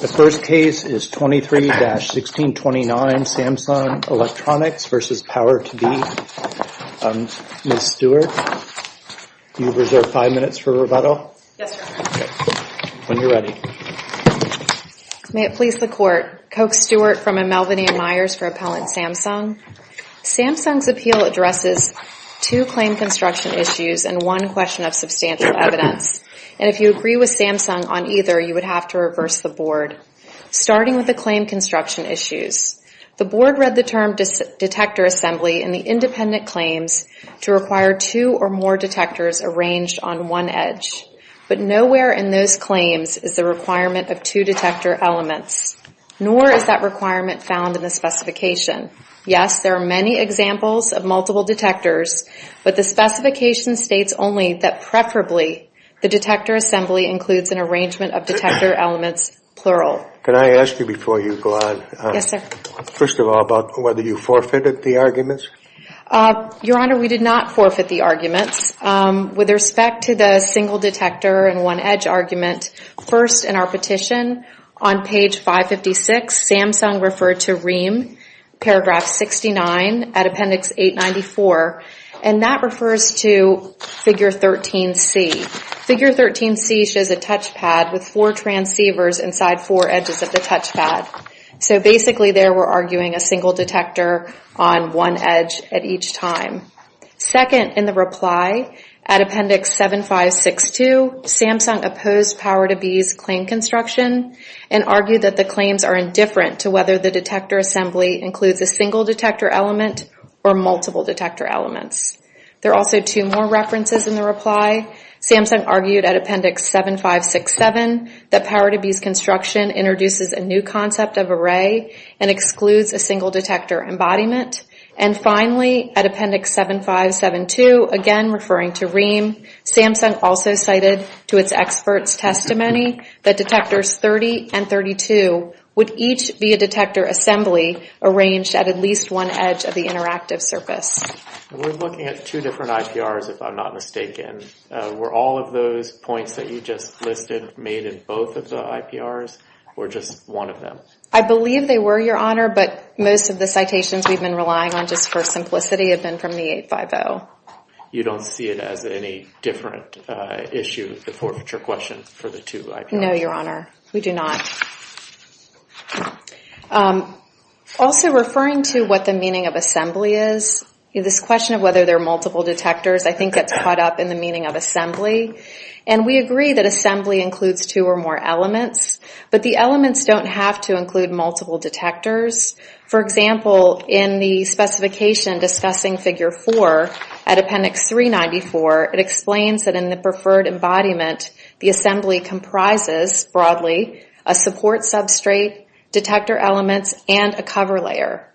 The first case is 23-1629, Samsung Electronics v. Power2B. Ms. Stewart, you have five minutes for rebuttal. Yes, sir. When you're ready. May it please the Court. Coke Stewart from Melvin A. Myers for Appellant Samsung. Samsung's appeal addresses two claim construction issues and one question of substantial evidence. And if you agree with Samsung on either, you would have to reverse the Board. Starting with the claim construction issues, the Board read the term detector assembly in the independent claims to require two or more detectors arranged on one edge. But nowhere in those claims is the requirement of two detector elements, nor is that requirement found in the specification. Yes, there are many examples of multiple detectors, but the specification states only that preferably the detector assembly includes an arrangement of detector elements, plural. Can I ask you before you go on? Yes, sir. First of all, about whether you forfeited the arguments? Your Honor, we did not forfeit the arguments. With respect to the single detector and one edge argument, first in our petition, on page 556 Samsung referred to REAM paragraph 69 at appendix 894, and that refers to figure 13C. Figure 13C shows a touch pad with four transceivers inside four edges of the touch pad. So basically there we're arguing a single detector on one edge at each time. Second, in the reply, at appendix 7562, Samsung opposed Power to Be's claim construction and argued that the claims are indifferent to whether the detector assembly includes a single detector element or multiple detector elements. There are also two more references in the reply. Samsung argued at appendix 7567 that Power to Be's construction introduces a new concept of array and excludes a single detector embodiment. And finally, at appendix 7572, again referring to REAM, Samsung also cited to its experts' testimony that detectors 30 and 32 would each be a detector assembly arranged at at least one edge of the interactive surface. We're looking at two different IPRs, if I'm not mistaken. Were all of those points that you just listed made in both of the IPRs, or just one of them? I believe they were, Your Honor, but most of the citations we've been relying on just for simplicity have been from the 850. You don't see it as any different issue, the forfeiture question, for the two IPRs? No, Your Honor, we do not. Also referring to what the meaning of assembly is, this question of whether there are multiple detectors, I think it's caught up in the meaning of assembly. And we agree that assembly includes two or more elements, but the elements don't have to include multiple detectors. For example, in the specification discussing figure four at appendix 394, it explains that in the preferred embodiment, the assembly comprises, broadly, a support substrate, detector elements, and a cover layer.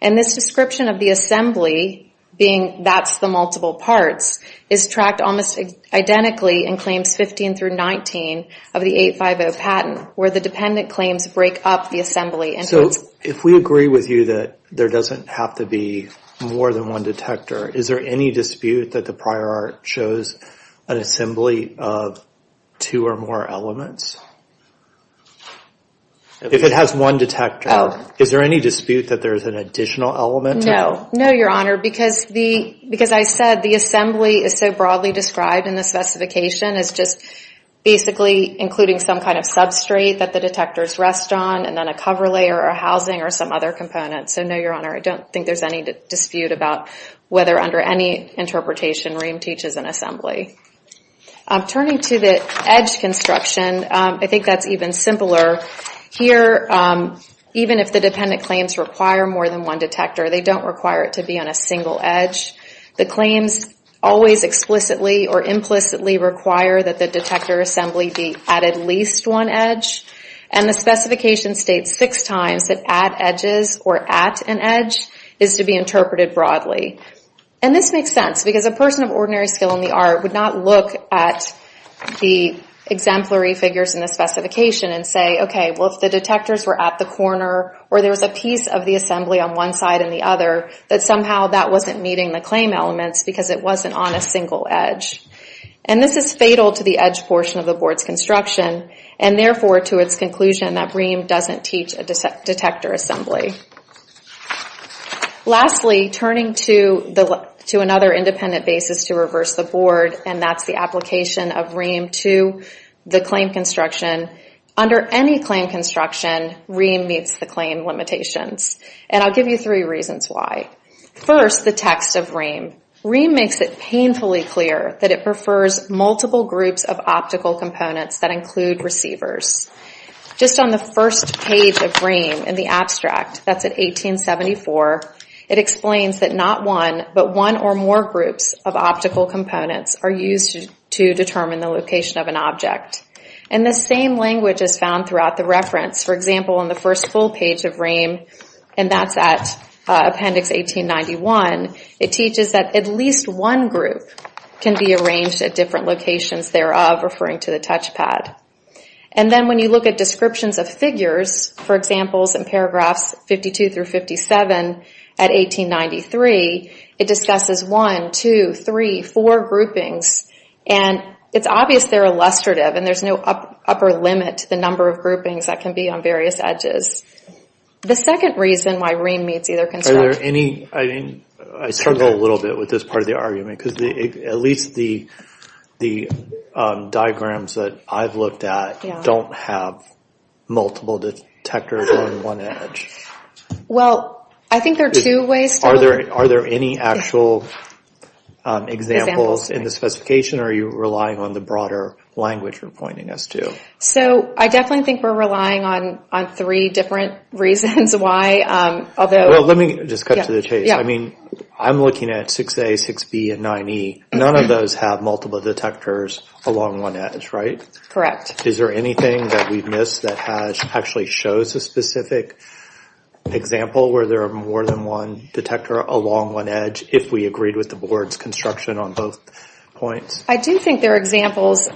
And this description of the assembly being that's the multiple parts is tracked almost identically in claims 15 through 19 of the 850 patent, where the dependent claims break up the assembly. So if we agree with you that there doesn't have to be more than one detector, is there any dispute that the prior art shows an assembly of two or more elements? If it has one detector, is there any dispute that there's an additional element? No, no, your honor, because I said the assembly is so broadly described in the specification as just basically including some kind of substrate that the detectors rest on, and then a cover layer or housing or some other component. So no, your honor, I don't think there's any dispute about whether under any interpretation Rehm teaches an assembly. Turning to the edge construction, I think that's even simpler. Here, even if the dependent claims require more than one detector, they don't require it to be on a single edge. The claims always explicitly or implicitly require that the detector assembly be at at least one edge. And the specification states six times that at edges or at an edge is to be interpreted broadly. And this makes sense because a person of ordinary skill in the art would not look at the exemplary figures in the specification and say, okay, well, if the detectors were at the corner or there was a piece of the assembly on one side and the other, that somehow that wasn't meeting the claim elements because it wasn't on a single edge. And this is fatal to the edge portion of the board's construction, and therefore to its conclusion that Rehm doesn't teach a detector assembly. Lastly, turning to another independent basis to reverse the board, and that's the application of Rehm to the claim construction. Under any claim construction, Rehm meets the claim limitations. And I'll give you three reasons why. First, the text of Rehm. Rehm makes it painfully clear that it prefers multiple groups of optical components that include receivers. Just on the first page of Rehm in the abstract, that's at 1874, it explains that not one, but one or more groups of optical components are used to determine the location of an object. And the same language is found throughout the reference. For example, on the first full page of Rehm, and that's at appendix 1891, it teaches that at least one group can be arranged at different locations thereof, referring to the touchpad. And then when you look at descriptions of figures, for examples in paragraphs 52 through 57, at 1893, it discusses one, two, three, four groupings. And it's obvious they're illustrative, and there's no upper limit to the number of groupings that can be on various edges. The second reason why Rehm meets either construction. I mean, I struggle a little bit with this part of the argument, because at least the diagrams that I've looked at don't have multiple detectors on one edge. Well, I think there are two ways to look at it. Are there any actual examples in the specification, or are you relying on the broader language you're pointing us to? So, I definitely think we're relying on three different reasons why, although. Well, let me just cut to the chase. I mean, I'm looking at 6A, 6B, and 9E. None of those have multiple detectors along one edge, right? Correct. Is there anything that we've missed that actually shows a specific example where there are more than one detector along one edge, if we agreed with the board's construction on both points? I do think there are examples.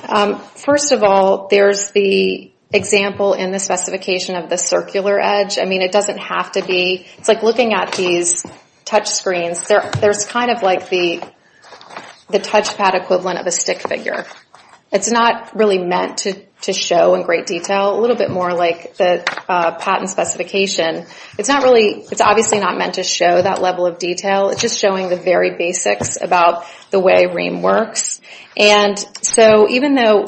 First of all, there's the example in the specification of the circular edge. I mean, it doesn't have to be. It's like looking at these touchscreens. There's kind of like the touchpad equivalent of a stick figure. It's not really meant to show in great detail, a little bit more like the patent specification. It's not really, it's obviously not meant to show that level of detail. It's just showing the very basics about the way Rheem works. And so even though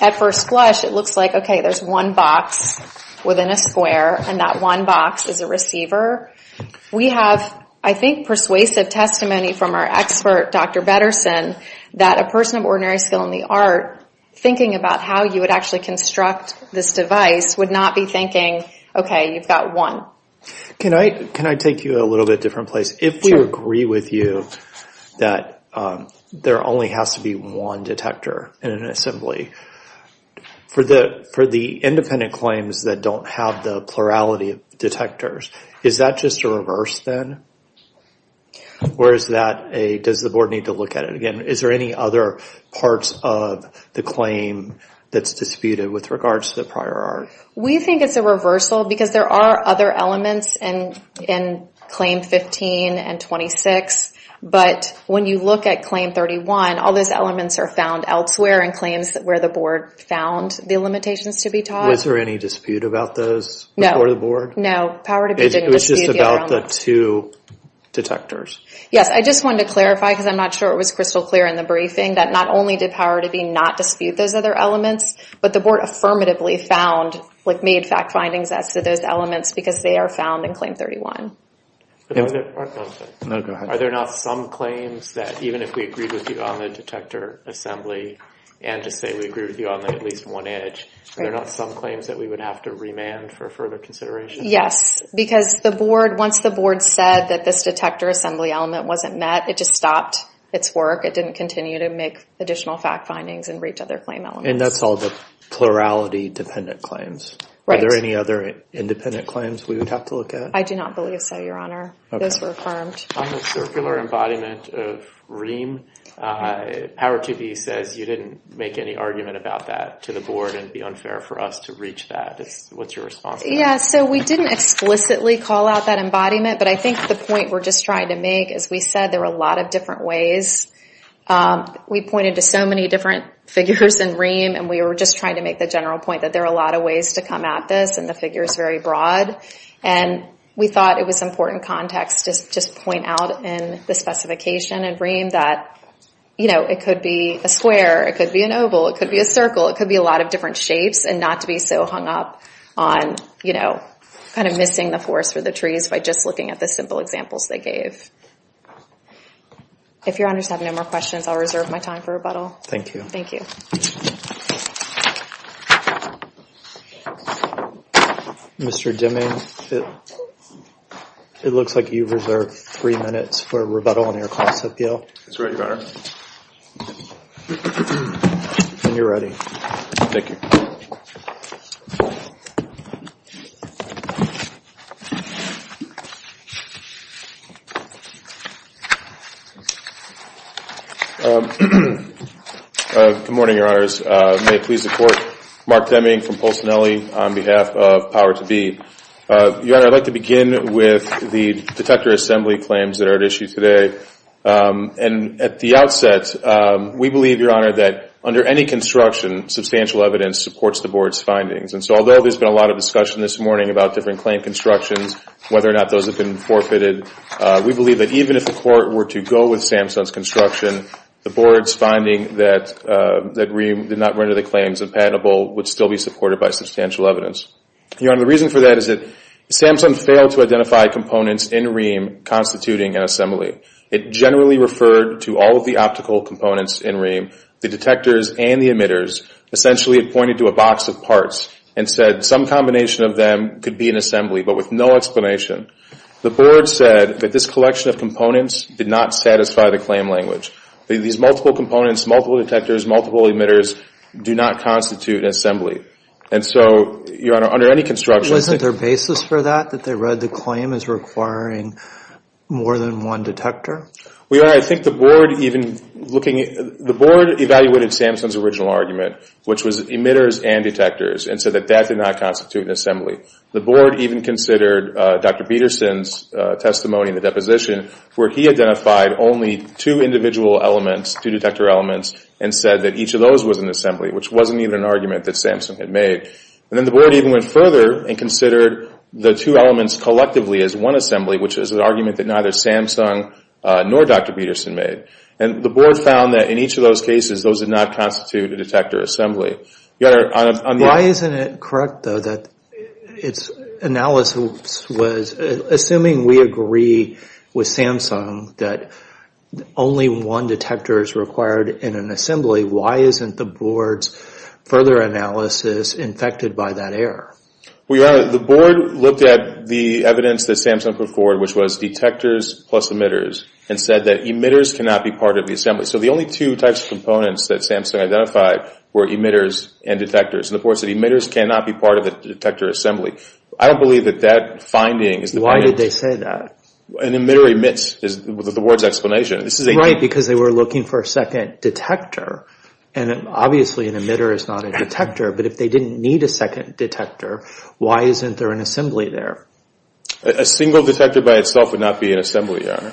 at first blush, it looks like, okay, there's one box within a square, and that one box is a receiver. We have, I think, persuasive testimony from our expert, Dr. Bederson, that a person of ordinary skill in the art, thinking about how you would actually construct this device, would not be thinking, okay, you've got one. Can I take you a little bit different place? If we agree with you that there only has to be one detector in an assembly, for the independent claims that don't have the plurality of detectors, is that just a reverse then? Or is that a, does the board need to look at it again? Is there any other parts of the claim that's disputed with regards to the prior art? We think it's a reversal, because there are other elements in Claim 15 and 26, but when you look at Claim 31, all those elements are found elsewhere in claims where the board found the limitations to be taught. Was there any dispute about those before the board? No, Power to Be didn't dispute the other elements. It was just about the two detectors. Yes, I just wanted to clarify, because I'm not sure it was crystal clear in the briefing, that not only did Power to Be not dispute those other elements, but the board affirmatively found, like made fact findings as to those elements, because they are found in Claim 31. Are there not some claims that, even if we agreed with you on the detector assembly, and to say we agree with you on at least one edge, are there not some claims that we would have to remand for further consideration? Yes, because the board, once the board said that this detector assembly element wasn't met, it just stopped its work. It didn't continue to make additional fact findings and reach other claim elements. And that's all the plurality-dependent claims. Right. Are there any other independent claims we would have to look at? I do not believe so, Your Honor. Those were affirmed. On the circular embodiment of Ream, Power to Be says you didn't make any argument about that to the board, and it'd be unfair for us to reach that. What's your response to that? Yeah, so we didn't explicitly call out that embodiment, but I think the point we're just trying to make, as we said, there were a lot of different ways. We pointed to so many different figures in Ream, and we were just trying to make the general point that there are a lot of ways to come at this, and the figure is very broad. And we thought it was important context to just point out in the specification in Ream that it could be a square, it could be an oval, it could be a circle, it could be a lot of different shapes, and not to be so hung up on missing the forest or the trees by just looking at the simple examples they gave. If your honors have no more questions, I'll reserve my time for rebuttal. Thank you. Thank you. Mr. Deming, it looks like you've reserved three minutes for rebuttal on your cost appeal. That's right, your honor. And you're ready. Thank you. Good morning, your honors. May it please the court. Mark Deming from Pulsinelli on behalf of Power To Be. Your honor, I'd like to begin with the detector assembly claims that are at issue today. And at the outset, we believe, your honor, that under any construction, substantial evidence supports the board's findings. And so although there's been a lot of discussion this morning about different claim constructions, whether or not those have been forfeited, we believe that the board's findings are that even if the court were to go with Samsung's construction, the board's finding that Rheem did not render the claims impenetrable would still be supported by substantial evidence. Your honor, the reason for that is that Samsung failed to identify components in Rheem constituting an assembly. It generally referred to all of the optical components in Rheem, the detectors and the emitters. Essentially, it pointed to a box of parts and said some combination of them could be an assembly, but with no explanation. The board said that this collection of components did not satisfy the claim language. These multiple components, multiple detectors, multiple emitters do not constitute an assembly. And so, your honor, under any construction, Wasn't there basis for that, that they read the claim as requiring more than one detector? Well, your honor, I think the board even looking at it, the board evaluated Samsung's original argument, which was emitters and detectors, and said that that did not constitute an assembly. The board even considered Dr. Peterson's testimony in the deposition, where he identified only two individual elements, two detector elements, and said that each of those was an assembly, which wasn't even an argument that Samsung had made. And then the board even went further and considered the two elements collectively as one assembly, which is an argument that neither Samsung nor Dr. Peterson made. And the board found that in each of those cases, those did not constitute a detector assembly. Your honor, on the other hand- Its analysis was, assuming we agree with Samsung that only one detector is required in an assembly, why isn't the board's further analysis infected by that error? Well, your honor, the board looked at the evidence that Samsung put forward, which was detectors plus emitters, and said that emitters cannot be part of the assembly. So the only two types of components that Samsung identified were emitters and detectors. And the board said emitters cannot be part of the detector assembly. I don't believe that that finding is the point- Why did they say that? An emitter emits, is the board's explanation. This is a- Right, because they were looking for a second detector. And obviously an emitter is not a detector, but if they didn't need a second detector, why isn't there an assembly there? A single detector by itself would not be an assembly, your honor.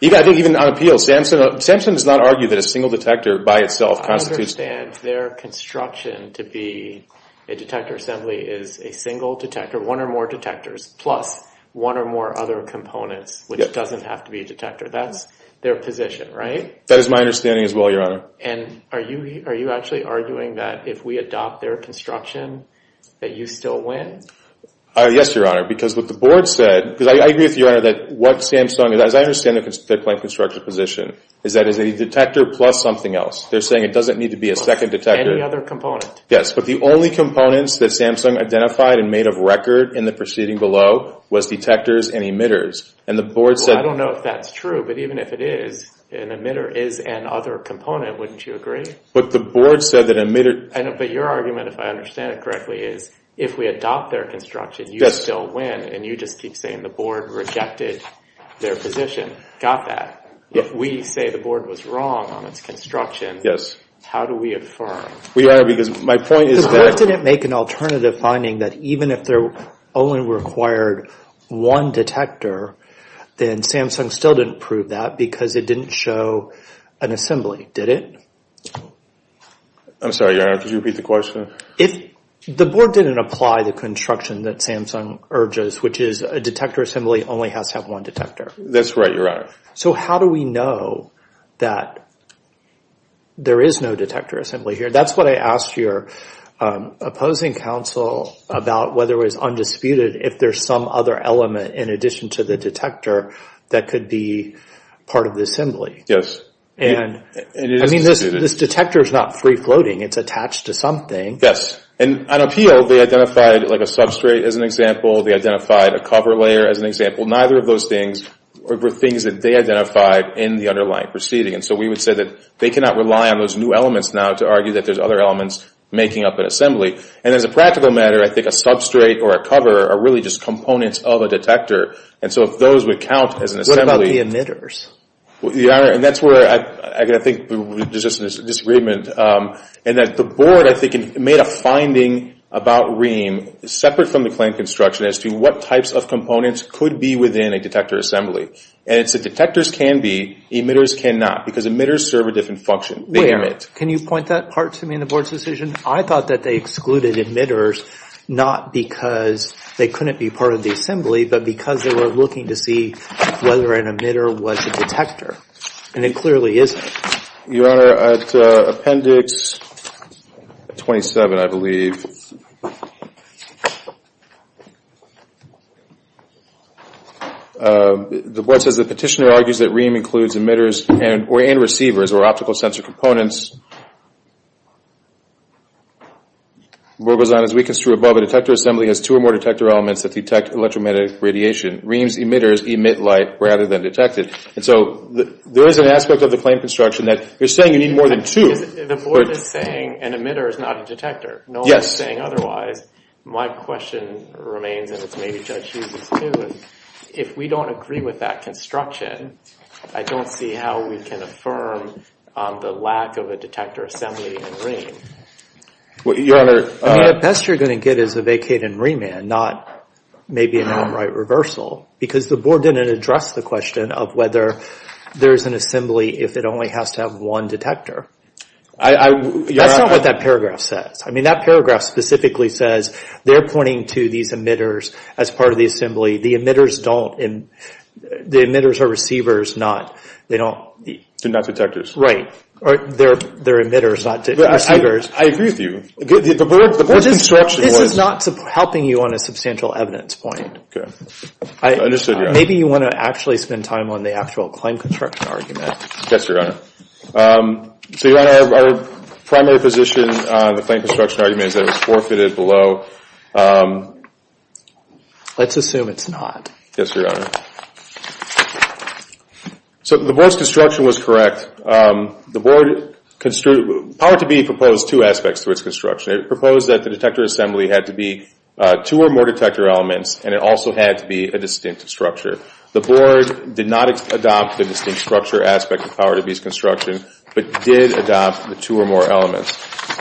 Even on appeal, Samsung does not argue that a single detector by itself constitutes- I understand their construction to be a detector assembly is a single detector, one or more detectors, plus one or more other components, which doesn't have to be a detector. That's their position, right? That is my understanding as well, your honor. And are you actually arguing that if we adopt their construction, that you still win? Yes, your honor, because what the board said, because I agree with you, your honor, that what Samsung, as I understand their plan of construction position, is that it's a detector plus something else. They're saying it doesn't need to be a second detector. Yes, but the only components that Samsung identified and made of record in the proceeding below was detectors and emitters. And the board said- Well, I don't know if that's true, but even if it is, an emitter is an other component, wouldn't you agree? But the board said that emitter- But your argument, if I understand it correctly, is if we adopt their construction, you still win, and you just keep saying the board rejected their position. Got that. If we say the board was wrong on its construction, how do we affirm? Well, your honor, because my point is that- The board didn't make an alternative finding that even if they only required one detector, then Samsung still didn't prove that because it didn't show an assembly, did it? I'm sorry, your honor, could you repeat the question? The board didn't apply the construction that Samsung urges, which is a detector assembly only has to have one detector. That's right, your honor. So how do we know that there is no detector assembly here? That's what I asked your opposing counsel about whether it was undisputed if there's some other element in addition to the detector that could be part of the assembly. Yes, and it is disputed. This detector's not free-floating, it's attached to something. Yes, and on appeal, they identified a substrate as an example, they identified a cover layer as an example. Neither of those things were things that they identified in the underlying proceeding. And so we would say that they cannot rely on those new elements now to argue that there's other elements making up an assembly. And as a practical matter, I think a substrate or a cover are really just components of a detector. And so if those would count as an assembly- What about the emitters? Your honor, and that's where I think there's just a disagreement. And that the board, I think, made a finding about Rheem separate from the claim construction as to what types of components could be within a detector assembly. And it's that detectors can be, emitters cannot, because emitters serve a different function, they emit. Can you point that part to me in the board's decision? I thought that they excluded emitters, not because they couldn't be part of the assembly, but because they were looking to see whether an emitter was a detector. And it clearly isn't. Your honor, at appendix 27, I believe, the board says the petitioner argues that Rheem includes emitters and receivers, or optical sensor components. The board goes on, as we construe above, a detector assembly has two or more detector elements that detect electromagnetic radiation. Rheem's emitters emit light rather than detect it. And so there is an aspect of the claim construction that you're saying you need more than two. The board is saying an emitter is not a detector. No one is saying otherwise. My question remains, and it's maybe Judge Hughes' too, is if we don't agree with that construction, I don't see how we can affirm the lack of a detector assembly in Rheem. Your honor. I mean, the best you're gonna get is a vacate in Rheeman, not maybe an outright reversal, because the board didn't address the question of whether there's an assembly if it only has to have one detector. That's not what that paragraph says. I mean, that paragraph specifically says they're pointing to these emitters as part of the assembly. The emitters don't, the emitters are receivers, not, they don't. They're not detectors. Right. They're emitters, not receivers. I agree with you. The board's construction was. This is not helping you on a substantial evidence point. Okay, understood, your honor. Maybe you wanna actually spend time on the actual claim construction argument. Yes, your honor. So, your honor, our primary position on the claim construction argument is that it was forfeited below. Let's assume it's not. Yes, your honor. So, the board's construction was correct. The board, Power to Be proposed two aspects to its construction. It proposed that the detector assembly had to be two or more detector elements, and it also had to be a distinct structure. The board did not adopt the distinct structure aspect of Power to Be's construction, but did adopt the two or more elements.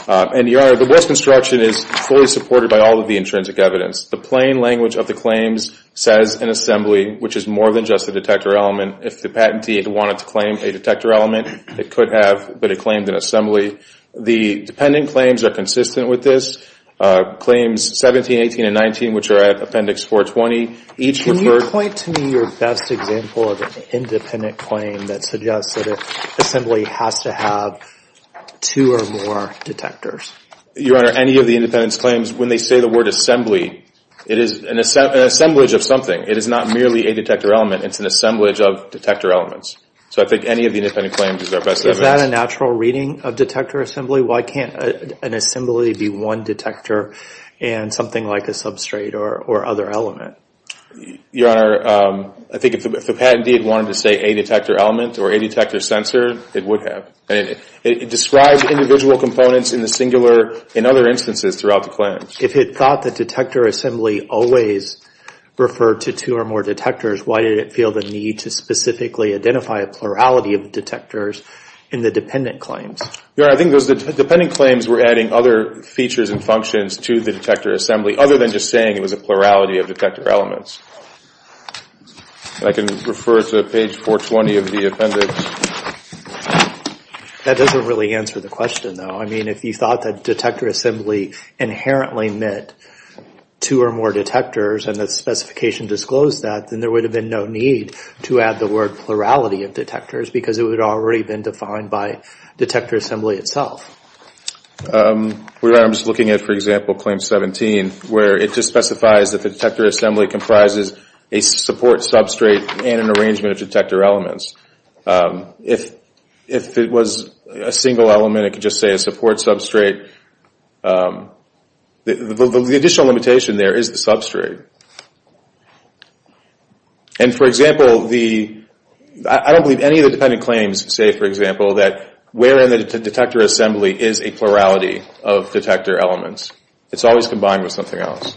And, your honor, the board's construction is fully supported by all of the intrinsic evidence. The plain language of the claims says an assembly, which is more than just a detector element. If the patentee had wanted to claim a detector element, it could have, but it claimed an assembly. The dependent claims are consistent with this. Claims 17, 18, and 19, which are at appendix 420, each referred. Can you point to me your best example of an independent claim that suggests that an assembly has to have two or more detectors? Your honor, any of the independent claims, when they say the word assembly, it is an assemblage of something. It is not merely a detector element. It's an assemblage of detector elements. So, I think any of the independent claims is our best evidence. Is that a natural reading of detector assembly? Why can't an assembly be one detector and something like a substrate or other element? Your honor, I think if the patentee wanted to say a detector element or a detector sensor, it would have. And it describes individual components in the singular in other instances throughout the claims. If it thought the detector assembly always referred to two or more detectors, why did it feel the need to specifically identify a plurality of detectors in the dependent claims? Your honor, I think those dependent claims were adding other features and functions to the detector assembly, other than just saying it was a plurality of detector elements. I can refer to page 420 of the appendix. That doesn't really answer the question, though. I mean, if you thought that detector assembly inherently meant two or more detectors and the specification disclosed that, then there would have been no need to add the word plurality of detectors because it would have already been defined by detector assembly itself. Your honor, I'm just looking at, for example, claim 17, where it just specifies that the detector assembly comprises a support substrate and an arrangement of detector elements. If it was a single element, it could just say a support substrate. The additional limitation there is the substrate. And for example, I don't believe any of the dependent claims say, for example, that where in the detector assembly is a plurality of detector elements. It's always combined with something else.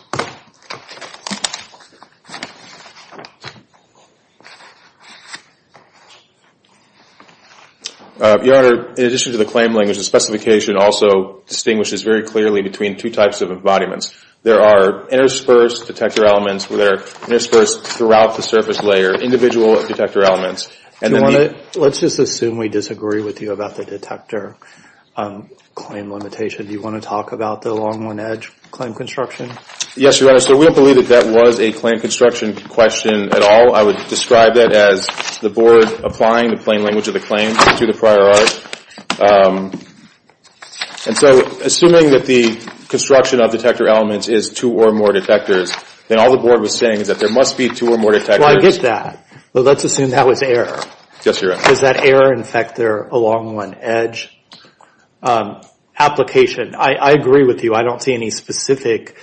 Your honor, in addition to the claim language, the specification also distinguishes very clearly between two types of embodiments. There are interspersed detector elements where they're interspersed throughout the surface layer, individual detector elements. Let's just assume we disagree with you about the detector claim limitation. Do you want to talk about the long one edge claim construction? Yes, your honor. So we don't believe that that was a claim construction question at all. I would describe that as the board applying the plain language of the claim to the prior art. And so assuming that the construction of detector elements is two or more detectors, then all the board was saying is that there must be two or more detectors. Well, I get that. But let's assume that was error. Yes, your honor. Does that error infect their long one edge application? I agree with you. I don't see any specific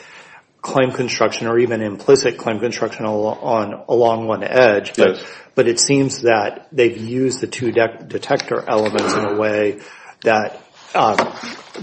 claim construction or even implicit claim construction along one edge. But it seems that they've used the two detector elements in a way that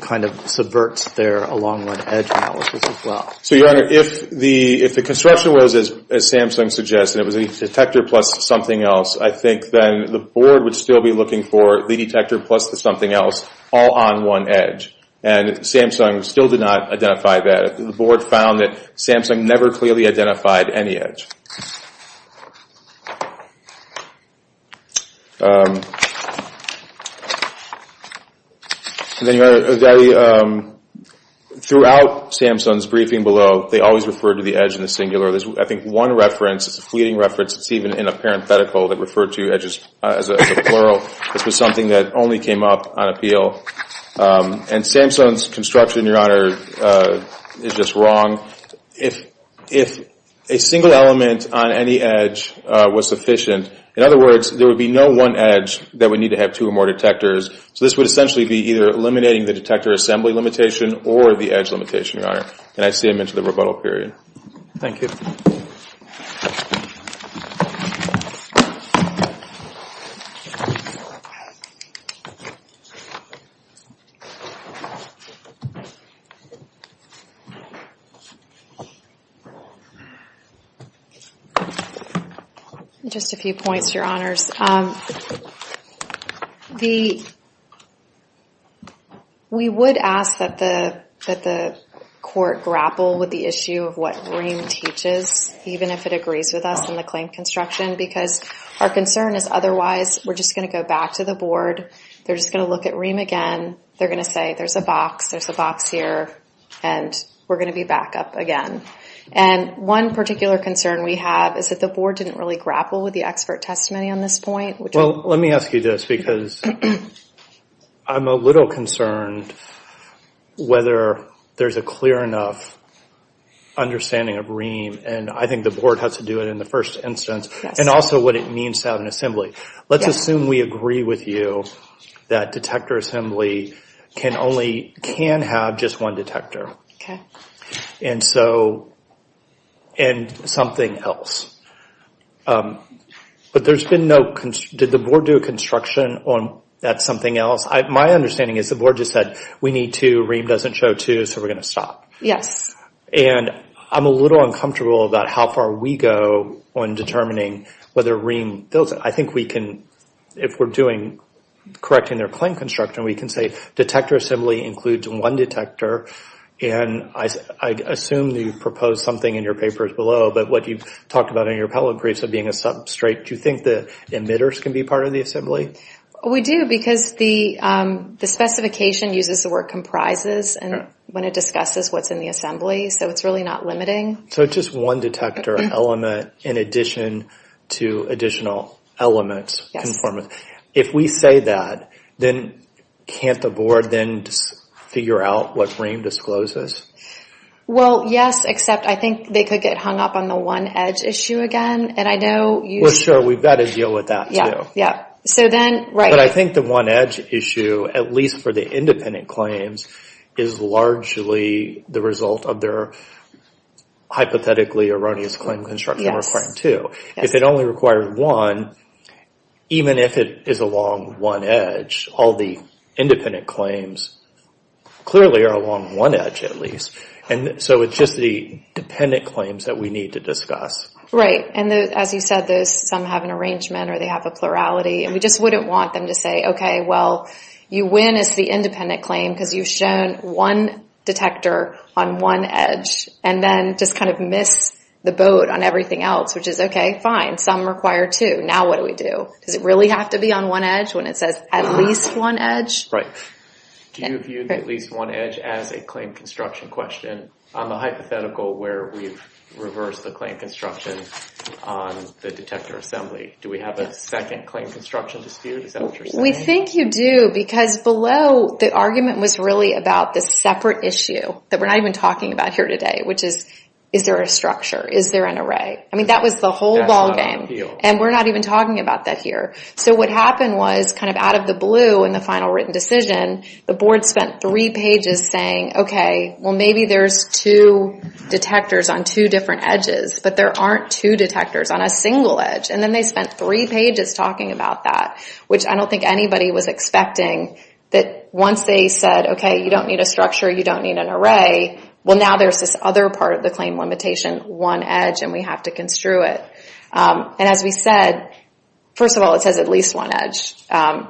kind of subverts their long one edge analysis as well. So your honor, if the construction was, as Samsung suggests, and it was a detector plus something else, I think then the board would still be looking for the detector plus the something else all on one edge. And Samsung still did not identify that. The board found that Samsung never clearly identified any edge. Throughout Samsung's briefing below, they always referred to the edge in the singular. There's, I think, one reference, it's a fleeting reference, it's even in a parenthetical that referred to edges as a plural. This was something that only came up on appeal. And Samsung's construction, your honor, is just wrong. If a single element on any edge was sufficient, in other words, there would be no one edge that would need to have two or more detectors. So this would essentially be either eliminating the detector assembly limitation or the edge limitation, your honor. And I see him into the rebuttal period. Thank you. Just a few points, your honors. We would ask that the court grapple with the issue of what Reem teaches, even if it agrees with us in the claim construction, because our concern is otherwise we're just gonna go back to the board, they're just gonna look at Reem again, they're gonna say, there's a box, there's a box here, and we're gonna be back up again. And one particular concern we have is that the board didn't really grapple with the expert testimony on this point. Well, let me ask you this, because I'm a little concerned whether there's a clear enough understanding of Reem, and I think the board has to do it in the first instance, and also what it means to have an assembly. Let's assume we agree with you that detector assembly can only, can have just one detector. And so, and something else. But there's been no, did the board do a construction on that something else? My understanding is the board just said, we need two, Reem doesn't show two, so we're gonna stop. Yes. And I'm a little uncomfortable about how far we go on determining whether Reem, I think we can, if we're doing, correcting their claim construction, we can say detector assembly includes one detector, and I assume you've proposed something in your papers below, but what you've talked about in your appellate briefs of being a substrate, do you think the emitters can be part of the assembly? We do, because the specification uses the word comprises, and when it discusses what's in the assembly, so it's really not limiting. So it's just one detector element in addition to additional elements, conformance. If we say that, then can't the board then figure out what Reem discloses? Well, yes, except I think they could get hung up on the one-edge issue again, and I know you- We're sure, we've got to deal with that too. Yeah, so then, right. But I think the one-edge issue, at least for the independent claims, is largely the result of their hypothetically erroneous claim construction requiring two. If it only requires one, even if it is along one edge, all the independent claims clearly are along one edge, at least, and so it's just the dependent claims that we need to discuss. Right, and as you said, some have an arrangement or they have a plurality, and we just wouldn't want them to say, okay, well, you win as the independent claim because you've shown one detector on one edge, and then just kind of miss the boat on everything else, which is okay, fine, some require two. Now what do we do? Does it really have to be on one edge when it says at least one edge? Right. Do you view the at least one edge as a claim construction question on the hypothetical where we've reversed the claim construction on the detector assembly? Do we have a second claim construction dispute? Is that what you're saying? We think you do, because below, the argument was really about this separate issue that we're not even talking about here today, which is, is there a structure? Is there an array? I mean, that was the whole ballgame, and we're not even talking about that here. So what happened was kind of out of the blue in the final written decision, the board spent three pages saying, okay, well, maybe there's two detectors on two different edges, but there aren't two detectors on a single edge, and then they spent three pages talking about that, which I don't think anybody was expecting that once they said, okay, you don't need a structure, you don't need an array, well, now there's this other part of the claim limitation, one edge, and we have to construe it. And as we said, first of all, it says at least one edge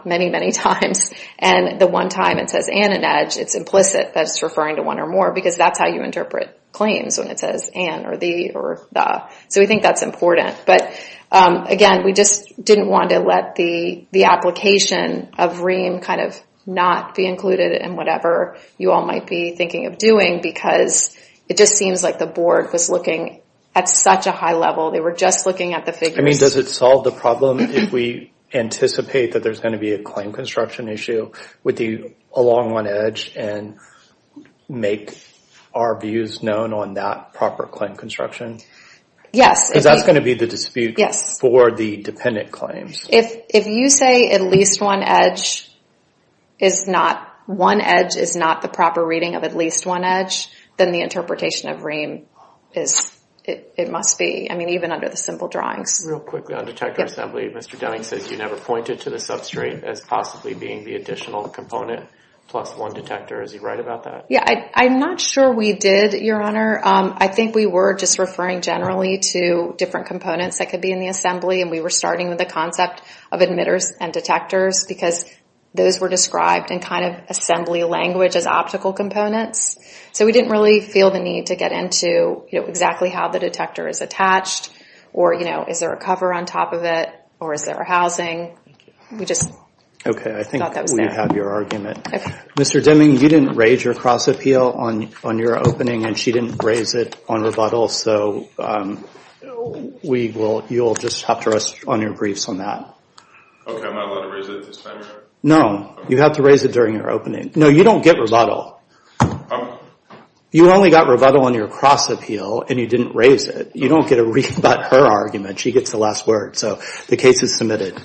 many, many times, and the one time it says and an edge, it's implicit that it's referring to one or more, because that's how you interpret claims when it says and, or the, or the. So we think that's important. But again, we just didn't want to let the application of REAM kind of not be included in whatever you all might be thinking of doing, because it just seems like the board was looking at such a high level. They were just looking at the figures. I mean, does it solve the problem if we anticipate that there's gonna be a claim construction issue with the along one edge and make our views known on that proper claim construction? Yes. Because that's gonna be the dispute for the dependent claims. If you say at least one edge is not, one edge is not the proper reading of at least one edge, then the interpretation of REAM is, it must be. I mean, even under the simple drawings. Real quickly on detector assembly, Mr. Denning says you never pointed to the substrate as possibly being the additional component plus one detector. Is he right about that? Yeah, I'm not sure we did, Your Honor. I think we were just referring generally to different components that could be in the assembly, and we were starting with the concept of emitters and detectors, because those were described in kind of assembly language as optical components. So we didn't really feel the need to get into exactly how the detector is attached, or is there a cover on top of it, or is there a housing? We just thought that was there. Okay, I think we have your argument. Mr. Deming, you didn't raise your cross appeal on your opening, and she didn't raise it on rebuttal, so you'll just have to rest on your briefs on that. Okay, I'm not allowed to raise it at this time, Your Honor? No, you have to raise it during your opening. No, you don't get rebuttal. You only got rebuttal on your cross appeal, and you didn't raise it. You don't get a rebut her argument. She gets the last word, so the case is submitted.